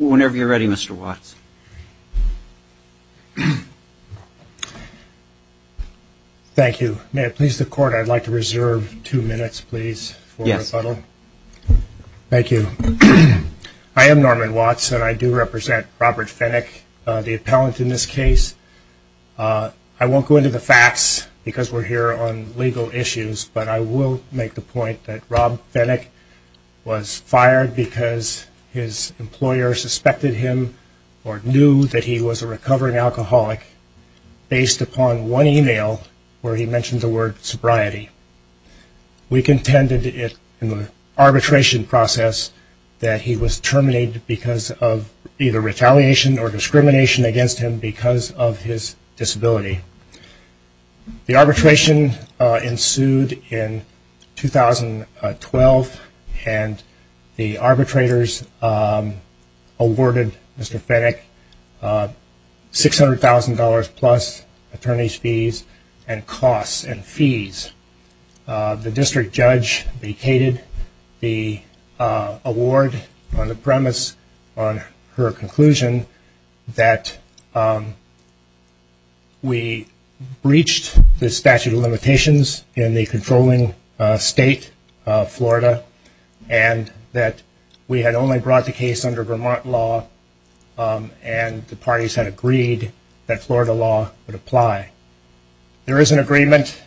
Mr. Watson. Thank you. May it please the court, I'd like to reserve two minutes, please, for rebuttal. Thank you. I am Norman Watson, I do represent Robert Fenyk, the appellant in this case. I won't go into the facts because we're here on legal issues, but I will make the point that Rob Fenyk was fired because his employer suspected him or knew that he was a recovering alcoholic based upon one email where he mentioned the word sobriety. We contended in the arbitration process that he was terminated because of either retaliation or discrimination against him because of his disability. The arbitration ensued in 2012 and the arbitrators awarded Mr. Fenyk $600,000 plus attorney's fees and costs and fees. The district judge vacated the award on the premise on her conclusion that we breached the statute of limitations in the controlling state of Florida and that we had only brought the case under Vermont law and the parties had agreed that Florida law would apply. There is an agreement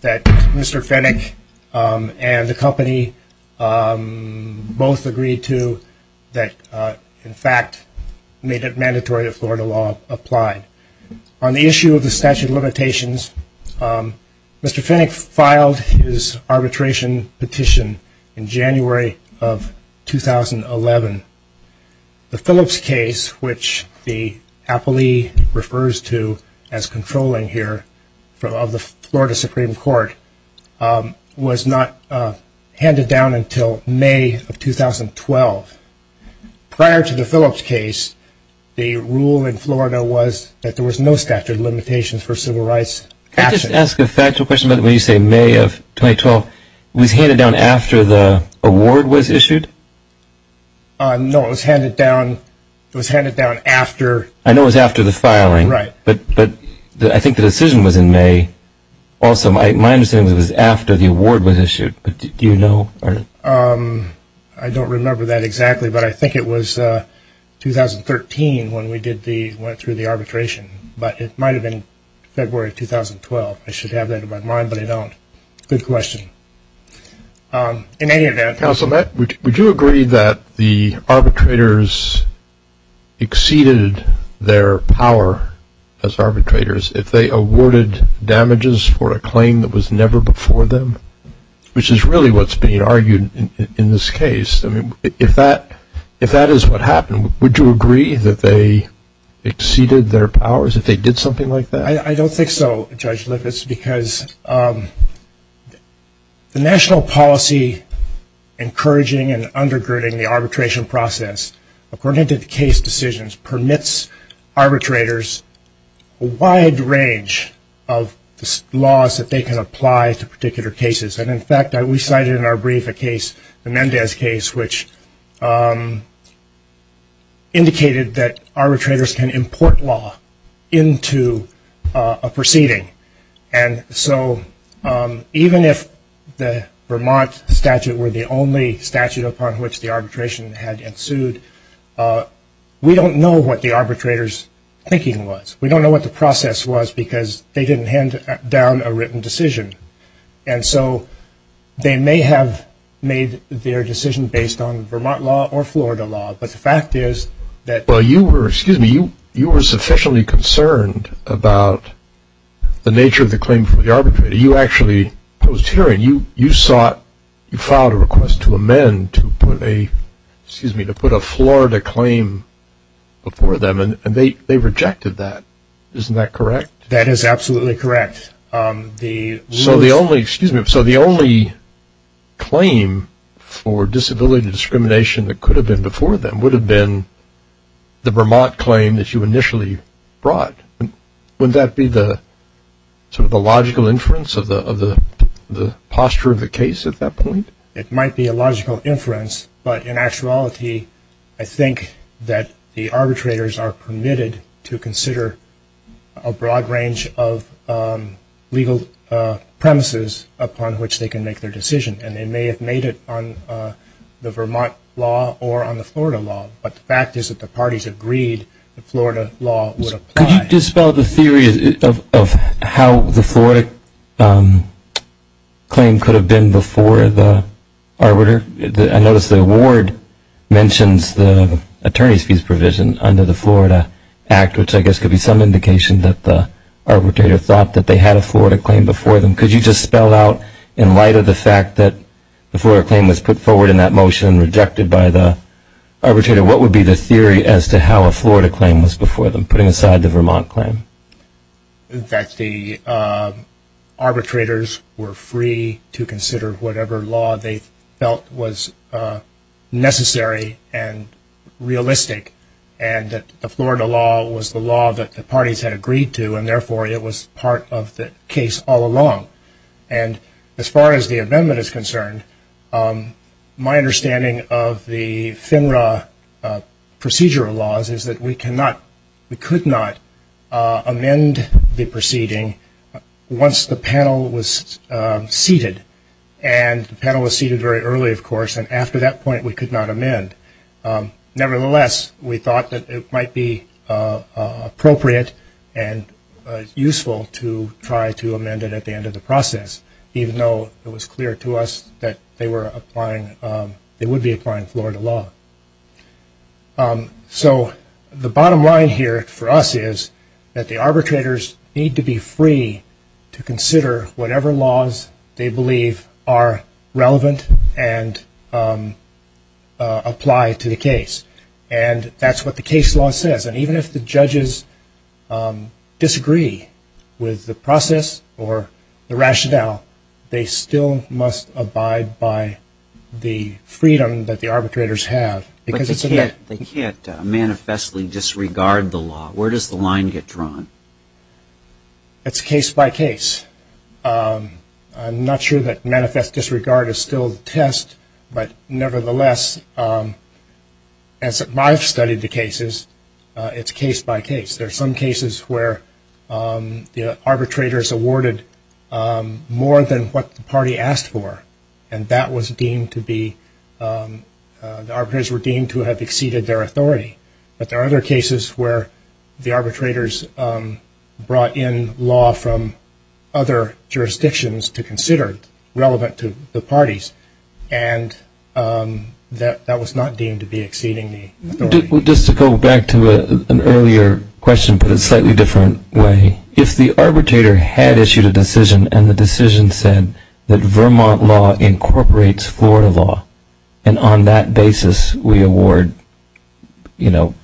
that Mr. Fenyk and the company both agreed to that in fact made it mandatory that Florida law applied. On the issue of the statute of limitations, Mr. Fenyk filed his arbitration petition in The Phillips case, which the appellee refers to as controlling here of the Florida Supreme Court, was not handed down until May of 2012. Prior to the Phillips case, the rule in Florida was that there was no statute of limitations for civil rights. Can I just ask a factual question about when you say May of 2012, it was handed down after the award was issued? No, it was handed down after. I know it was after the filing, but I think the decision was in May. Also, my understanding is that it was after the award was issued, but do you know? I don't remember that exactly, but I think it was 2013 when we went through the arbitration, but it might have been February of 2012, I should have that in my mind, but I don't. Good question. Counsel, would you agree that the arbitrators exceeded their power as arbitrators if they awarded damages for a claim that was never before them, which is really what's being argued in this case? If that is what happened, would you agree that they exceeded their powers if they did something like that? I don't think so, Judge Lippitz, because the national policy encouraging and undergirding the arbitration process, according to the case decisions, permits arbitrators a wide range of laws that they can apply to particular cases, and in fact, we cited in our brief case, the Mendez case, which indicated that arbitrators can import law into a proceeding, and so even if the Vermont statute were the only statute upon which the arbitration had ensued, we don't know what the arbitrator's thinking was. We don't know what the process was, because they didn't hand down a written decision, and so they may have made their decision based on Vermont law or Florida law, but the fact is that... Well, you were, excuse me, you were sufficiently concerned about the nature of the claim from the arbitrator. You actually, post-hearing, you sought, you filed a request to amend to put a, excuse me, to put a Florida claim before them, and they rejected that, isn't that correct? That is absolutely correct. So the only, excuse me, so the only claim for disability discrimination that could have been before them would have been the Vermont claim that you initially brought. Would that be the sort of the logical inference of the posture of the case at that point? It might be a logical inference, but in actuality, I think that the arbitrators are permitted to consider a broad range of legal premises upon which they can make their decision, and they may have made it on the Vermont law or on the Florida law, but the fact is that the parties agreed that Florida law would apply. Could you dispel the theory of how the Florida claim could have been before the arbiter? I noticed the ward mentions the attorney's fees provision under the Florida Act, which I guess could be some indication that the arbitrator thought that they had a Florida claim before them. Could you just spell out, in light of the fact that the Florida claim was put forward in that motion and rejected by the arbitrator, what would be the theory as to how a Florida claim was before them, putting aside the Vermont claim? That the arbitrators were free to consider whatever law they felt was necessary and realistic, and that the Florida law was the law that the parties had agreed to, and therefore it was part of the case all along, and as far as the amendment is concerned, my understanding of the FINRA procedural laws is that we could not amend the proceeding once the panel was seated, and the panel was seated very early, of course, and after that point, we could not amend. Nevertheless, we thought that it might be appropriate and useful to try to amend it at the end of the process, even though it was clear to us that they would be applying Florida law. So the bottom line here for us is that the arbitrators need to be free to consider whatever laws they believe are relevant and apply to the case, and that's what the case law says. Even if the judges disagree with the process or the rationale, they still must abide by the freedom that the arbitrators have. But they can't manifestly disregard the law. Where does the line get drawn? It's case by case. I'm not sure that manifest disregard is still the test, but nevertheless, as I've studied the cases, it's case by case. There are some cases where the arbitrators awarded more than what the party asked for, and that was deemed to be – the arbitrators were deemed to have exceeded their authority. But there are other cases where the arbitrators brought in law from other jurisdictions to consider relevant to the parties, and that was not deemed to be exceeding the authority. Just to go back to an earlier question, but in a slightly different way, if the arbitrator had issued a decision and the decision said that Vermont law incorporates Florida law and on that basis we award, you know,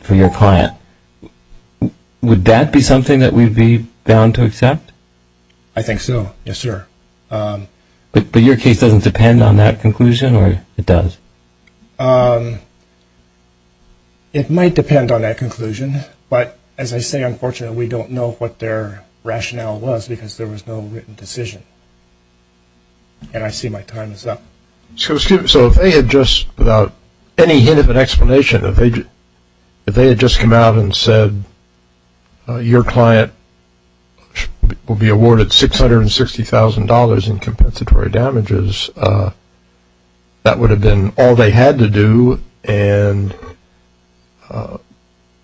for your client, would that be something that we'd be bound to accept? I think so, yes, sir. But your case doesn't depend on that conclusion, or it does? It might depend on that conclusion, but as I say, unfortunately, we don't know what their rationale was because there was no written decision. And I see my time is up. So if they had just, without any hint of an explanation, if they had just come out and compensatory damages, that would have been all they had to do, and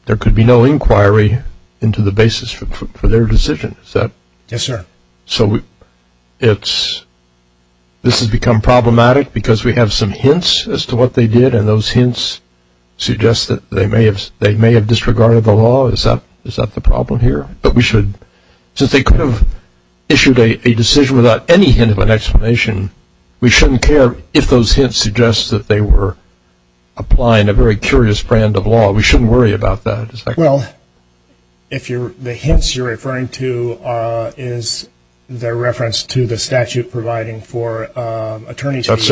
there could be no inquiry into the basis for their decision, is that – Yes, sir. So it's – this has become problematic because we have some hints as to what they did and those hints suggest that they may have disregarded the law, is that the problem here? But we should – since they could have issued a decision without any hint of an explanation, we shouldn't care if those hints suggest that they were applying a very curious brand of law. We shouldn't worry about that, is that correct? Well, if you're – the hints you're referring to is the reference to the statute providing for attorney's fees.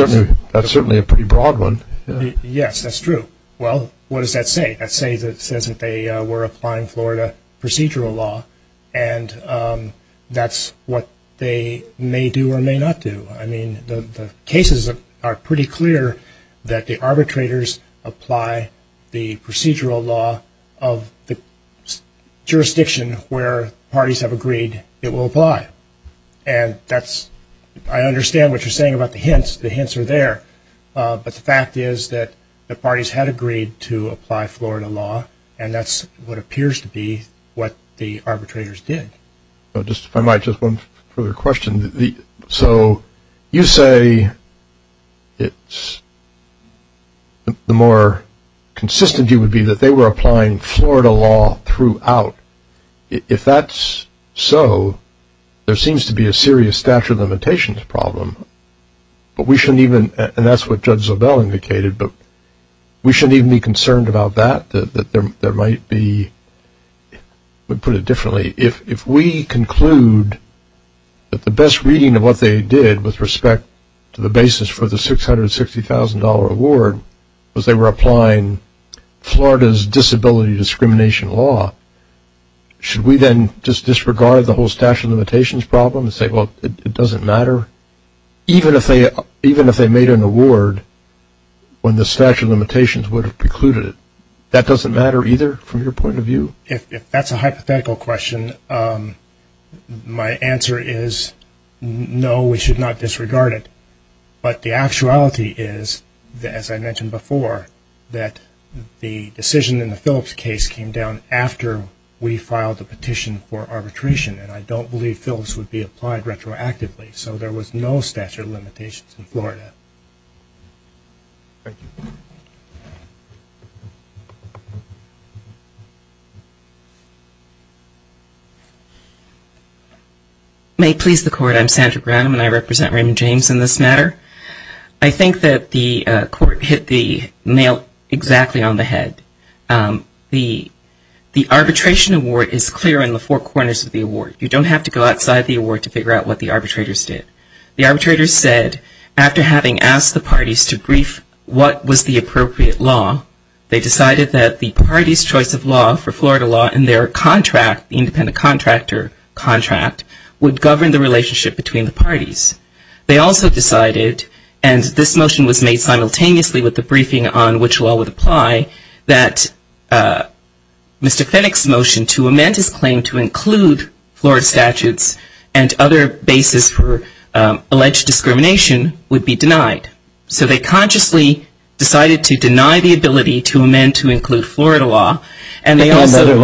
That's certainly a pretty broad one, yeah. Yes, that's true. Well, what does that say? It says that they were applying Florida procedural law, and that's what they may do or may not do. I mean, the cases are pretty clear that the arbitrators apply the procedural law of the jurisdiction where parties have agreed it will apply, and that's – I understand what you're saying about the hints. The hints are there, but the fact is that the parties had agreed to apply Florida law, and that's what appears to be what the arbitrators did. Just if I might, just one further question. So you say it's – the more consistent you would be that they were applying Florida law throughout. If that's so, there seems to be a serious statute of limitations problem, but we shouldn't even – and that's what Judge Zobel indicated, but we shouldn't even be concerned about that, that there might be – I'll put it differently. If we conclude that the best reading of what they did with respect to the basis for the should we then just disregard the whole statute of limitations problem and say, well, it doesn't matter? Even if they made an award when the statute of limitations would have precluded it, that doesn't matter either from your point of view? If that's a hypothetical question, my answer is no, we should not disregard it. But the actuality is, as I mentioned before, that the decision in the Phillips case came down after we filed the petition for arbitration, and I don't believe Phillips would be applied retroactively. So there was no statute of limitations in Florida. May it please the Court, I'm Sandra Graham and I represent Raymond James in this matter. I think that the Court hit the nail exactly on the head. The arbitration award is clear in the four corners of the award. You don't have to go outside the award to figure out what the arbitrators did. The arbitrators said, after having asked the parties to brief what was the appropriate law, they decided that the parties' choice of law for Florida law in their contract, the independent contractor contract, would govern the relationship between the parties. They also decided, and this motion was made simultaneously with the briefing on which law would apply, that Mr. Fennick's motion to amend his claim to include Florida statutes and other basis for alleged discrimination would be denied. So they consciously decided to deny the ability to amend to include Florida law and other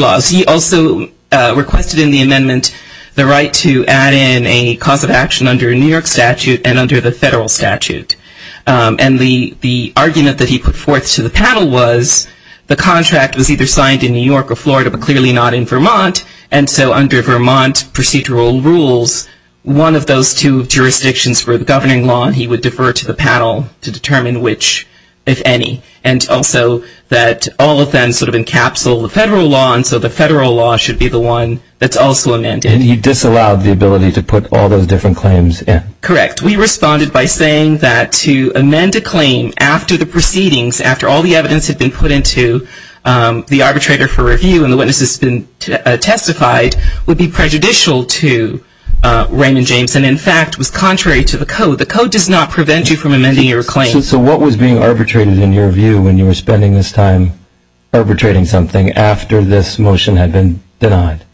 laws. He also requested in the amendment the right to add in a cause of action under a New York statute and under the federal statute. And the argument that he put forth to the panel was the contract was either signed in New York or Florida, but clearly not in Vermont. And so under Vermont procedural rules, one of those two jurisdictions for the governing law, he would defer to the panel to determine which, if any. And also that all of them sort of encapsule the federal law, and so the federal law should be the one that's also amended. And he disallowed the ability to put all those different claims in? Correct. We responded by saying that to amend a claim after the proceedings, after all the evidence had been put into the arbitrator for review and the witnesses had been testified, would be prejudicial to Raymond James and, in fact, was contrary to the code. The code does not prevent you from amending your claim. So what was being arbitrated in your view when you were spending this time arbitrating something after this motion had been denied?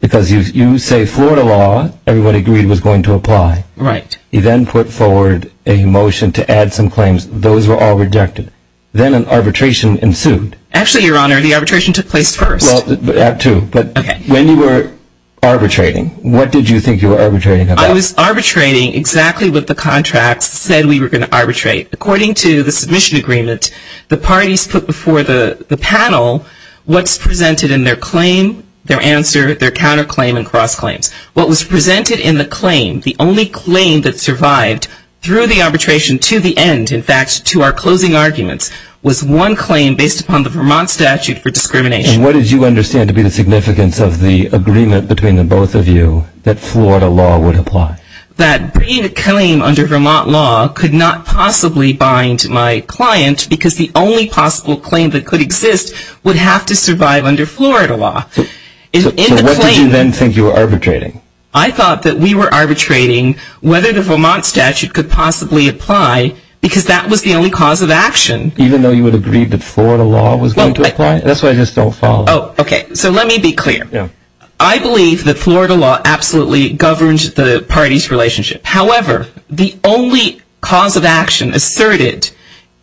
Because you say Florida law, everybody agreed was going to apply. Right. He then put forward a motion to add some claims. Those were all rejected. Then an arbitration ensued. Actually, Your Honor, the arbitration took place first. Well, that too. But when you were arbitrating, what did you think you were arbitrating about? I was arbitrating exactly what the contracts said we were going to arbitrate. According to the submission agreement, the parties put before the panel what's presented in their claim, their answer, their counterclaim and cross claims. What was presented in the claim, the only claim that survived through the arbitration to the end, in fact, to our closing arguments, was one claim based upon the Vermont statute for discrimination. And what did you understand to be the significance of the agreement between the both of you that Florida law would apply? That bringing a claim under Vermont law could not possibly bind my client because the only possible claim that could exist would have to survive under Florida law. So what did you then think you were arbitrating? I thought that we were arbitrating whether the Vermont statute could possibly apply because that was the only cause of action. Even though you would agree that Florida law was going to apply? That's why I just don't follow. Oh, OK. So let me be clear. Yeah. I believe that Florida law absolutely governed the party's relationship. However, the only cause of action asserted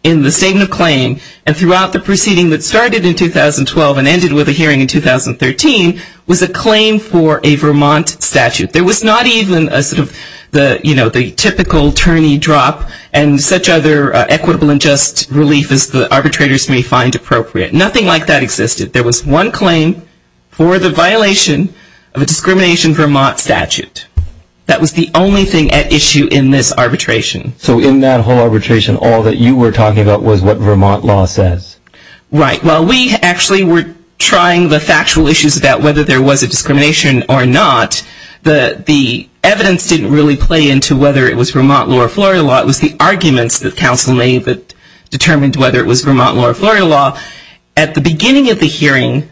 in the statement of claim and throughout the proceeding that started in 2012 and ended with a hearing in 2013 was a claim for a Vermont statute. There was not even a sort of the, you know, the typical attorney drop and such other equitable and just relief as the arbitrators may find appropriate. Nothing like that existed. There was one claim for the violation of a discrimination Vermont statute. That was the only thing at issue in this arbitration. So in that whole arbitration, all that you were talking about was what Vermont law says. Right. Well, we actually were trying the factual issues about whether there was a discrimination or not. The evidence didn't really play into whether it was Vermont law or Florida law. It was the arguments that counsel made that determined whether it was Vermont law or Florida law. At the beginning of the hearing,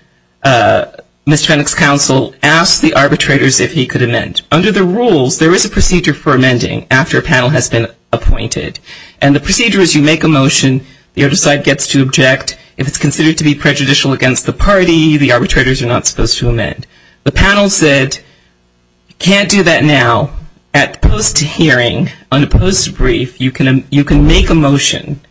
Miss Fenwick's counsel asked the arbitrators if he could amend. Under the rules, there is a procedure for amending after a panel has been appointed. And the procedure is you make a motion. The other side gets to object. If it's considered to be prejudicial against the party, the arbitrators are not supposed to amend. The panel said, can't do that now. At post hearing, on a post brief, you can make a motion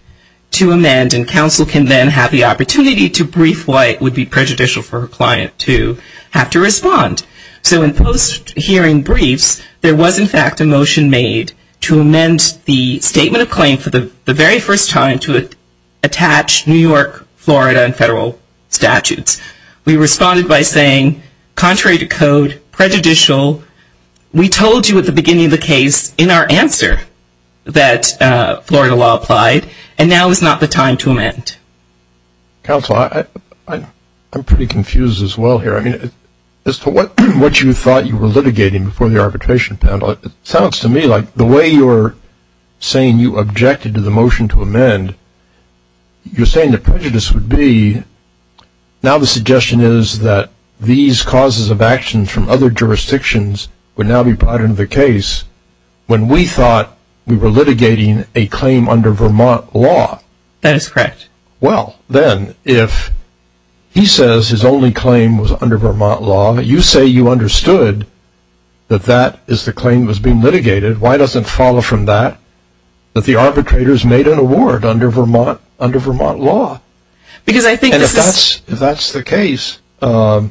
to amend and counsel can then have the opportunity to brief why it would be prejudicial for a client to have to respond. So in post hearing briefs, there was in fact a motion made to amend the statement of claim for the very first time to attach New York, Florida, and federal statutes. We responded by saying, contrary to code, prejudicial. We told you at the beginning of the case in our answer that Florida law applied and now is not the time to amend. Counsel, I'm pretty confused as well here. I mean, as to what you thought you were litigating before the arbitration panel, it sounds to me like the way you're saying you objected to the motion to amend, you're saying the prejudice would be now the suggestion is that these causes of actions from other jurisdictions would now be part of the case when we thought we were litigating a claim under Vermont law. That is correct. Well, then if he says his only claim was under Vermont law, you say you understood that that is the claim was being litigated. Why doesn't follow from that that the arbitrators made an award under Vermont under Vermont law? Because I think that's the case. Sounds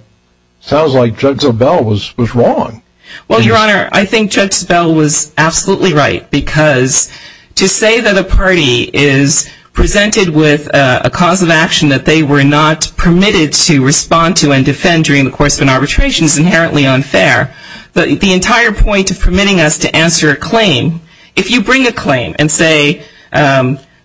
like Judge Zobel was was wrong. Well, Your Honor, I think Judge Zobel was absolutely right, because to say that a cause of action that they were not permitted to respond to and defend during the course of an arbitration is inherently unfair. But the entire point of permitting us to answer a claim, if you bring a claim and say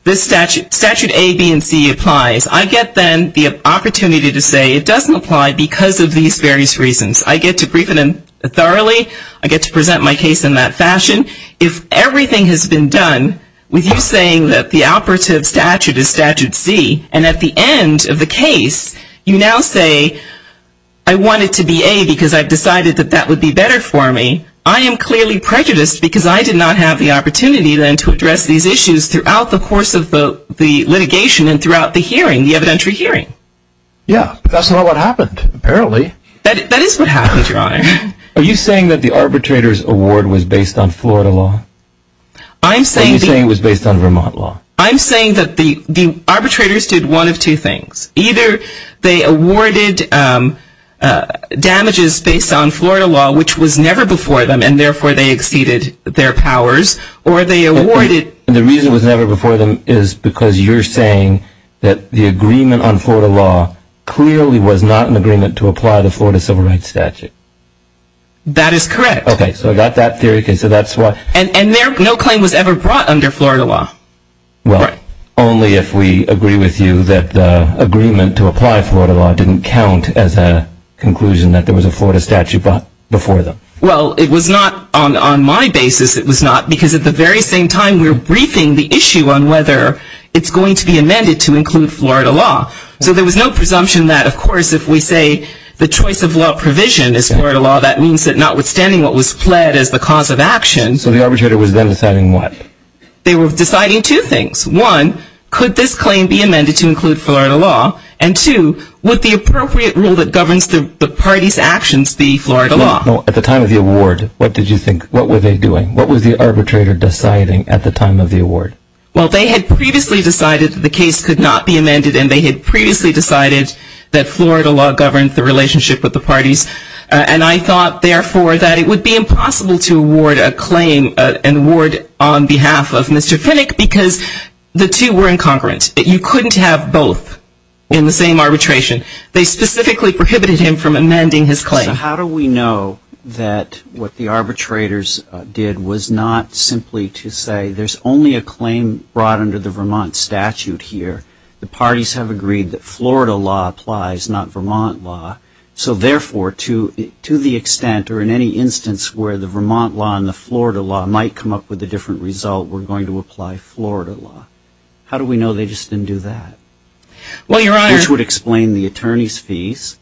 this statute, statute A, B and C applies, I get then the opportunity to say it doesn't apply because of these various reasons. I get to brief it thoroughly. I get to present my case in that fashion. If everything has been done with you saying that the operative statute is statute C and at the end of the case, you now say I want it to be A because I've decided that that would be better for me. I am clearly prejudiced because I did not have the opportunity then to address these issues throughout the course of the litigation and throughout the hearing, the evidentiary hearing. Yeah, that's not what happened, apparently. That is what happened, Your Honor. Are you saying that the arbitrator's award was based on Florida law? I'm saying it was based on Vermont law. I'm saying that the arbitrators did one of two things. Either they awarded damages based on Florida law, which was never before them, and therefore they exceeded their powers, or they awarded. The reason it was never before them is because you're saying that the agreement on Florida law clearly was not an agreement to apply the Florida civil rights statute. That is correct. Okay, so I got that theory. Okay, so that's why. And no claim was ever brought under Florida law. Well, only if we agree with you that the agreement to apply Florida law didn't count as a conclusion that there was a Florida statute before them. Well, it was not on my basis. It was not because at the very same time, we were briefing the issue on whether it's going to be amended to include Florida law. So there was no presumption that, of course, if we say the choice of law provision is Florida law, that means that notwithstanding what was pled as the cause of action. So the arbitrator was then deciding what? They were deciding two things. One, could this claim be amended to include Florida law? And two, would the appropriate rule that governs the party's actions be Florida law? At the time of the award, what did you think? What were they doing? What was the arbitrator deciding at the time of the award? Well, they had previously decided that the case could not be amended, and they had previously decided that Florida law governed the relationship with the parties. And I thought, therefore, that it would be impossible to award a claim, an award on behalf of Mr. Finick, because the two were incongruent. You couldn't have both in the same arbitration. They specifically prohibited him from amending his claim. So how do we know that what the arbitrators did was not simply to say, there's only a claim brought under the Vermont statute here. The parties have agreed that Florida law applies, not Vermont law. So, therefore, to the extent or in any instance where the Vermont law and the Florida law might come up with a different result, we're going to apply Florida law. How do we know they just didn't do that? Well, Your Honor. Which would explain the attorney's fees.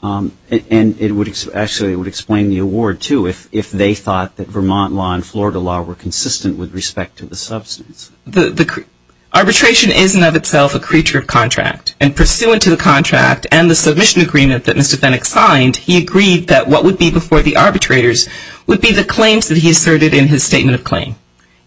And it would actually explain the award, too, if they thought that Vermont law and Florida law were consistent with respect to the substance. Arbitration is, in and of itself, a creature of contract. And pursuant to the contract and the submission agreement that Mr. Finick signed, he agreed that what would be before the arbitrators would be the claims that he asserted in his statement of claim.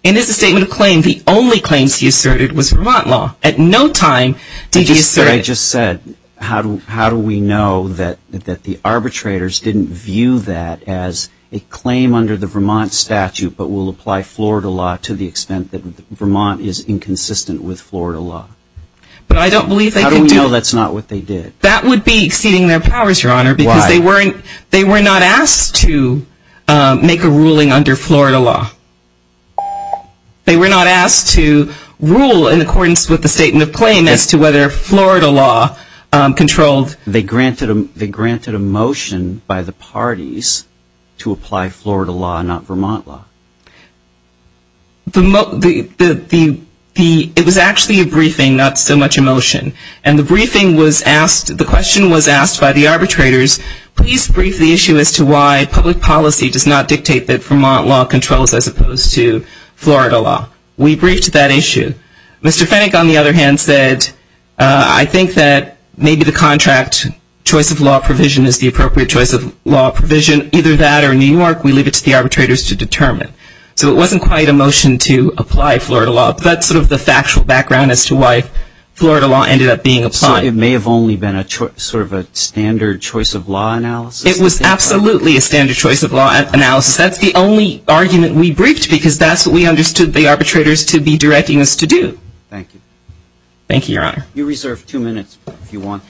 In his statement of claim, the only claims he asserted was Vermont law. At no time did he assert... I just said, how do we know that the arbitrators didn't view that as a claim under the Vermont statute, but will apply Florida law to the extent that Vermont is inconsistent with Florida law? But I don't believe they could do... How do we know that's not what they did? That would be exceeding their powers, Your Honor. Why? Because they weren't, they were not asked to make a ruling under Florida law. They were not asked to rule in accordance with the statement of claim as to whether Florida law controlled... They granted a motion by the parties to apply Florida law, not Vermont law. The, the, the, the, the, it was actually a briefing, not so much a motion. And the briefing was asked, the question was asked by the arbitrators, please brief the issue as to why public policy does not dictate that Vermont law controls as opposed to Florida law. We briefed that issue. Mr. Finick, on the other hand, said, uh, I think that maybe the contract choice of law provision is the appropriate choice of law provision, either that or New York. We leave it to the arbitrators to determine. So it wasn't quite a motion to apply Florida law, but that's sort of the factual background as to why Florida law ended up being applied. So it may have only been a sort of a standard choice of law analysis? It was absolutely a standard choice of law analysis. That's the only argument we briefed because that's what we understood the arbitrators to be directing us to do. Thank you. Thank you, Your Honor. You reserve two minutes if you want.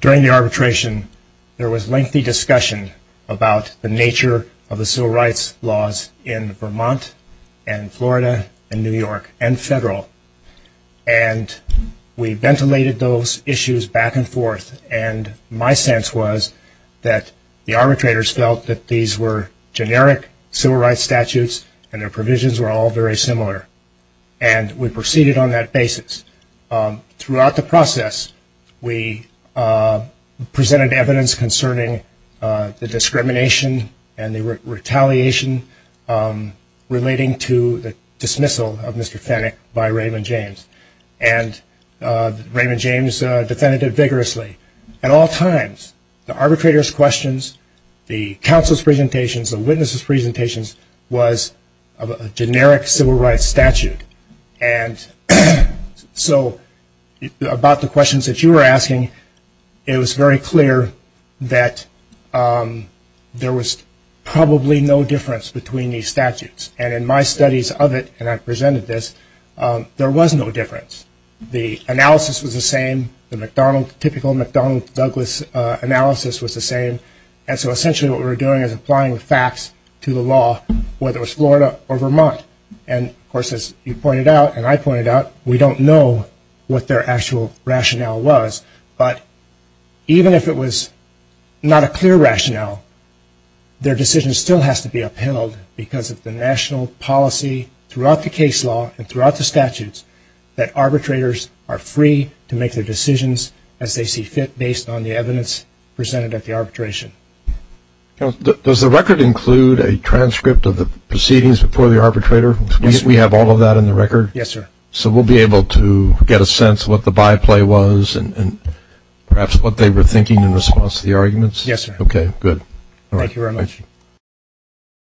During the arbitration, there was lengthy discussion about the nature of the civil rights laws in Vermont, and Florida, and New York, and federal. And we ventilated those issues back and forth. And my sense was that the arbitrators felt that these were generic civil rights statutes, and their provisions were all very similar. And we proceeded on that basis. Throughout the process, we presented evidence concerning the discrimination and the retaliation relating to the dismissal of Mr. Fennick by Raymond James. And Raymond James defended it vigorously. At all times, the arbitrators' questions, the counsel's presentations, the witnesses' presentations was a generic civil rights statute. And so about the questions that you were asking, it was very clear that there was probably no difference between these statutes. And in my studies of it, and I presented this, there was no difference. The analysis was the same. The typical McDonald-Douglas analysis was the same. And so essentially, what we were doing is applying the facts to the law, whether it was Florida or Vermont. And of course, as you pointed out, and I pointed out, we don't know what their actual rationale was. But even if it was not a clear rationale, their decision still has to be upheld because of the national policy throughout the case law and throughout the statutes that arbitrators are free to make their decisions as they see fit based on the evidence presented at the arbitration. Does the record include a transcript of the proceedings before the arbitrator? We have all of that in the record? Yes, sir. So we'll be able to get a sense of what the byplay was and perhaps what they were thinking in response to the arguments? Yes, sir. Okay, good. Thank you very much.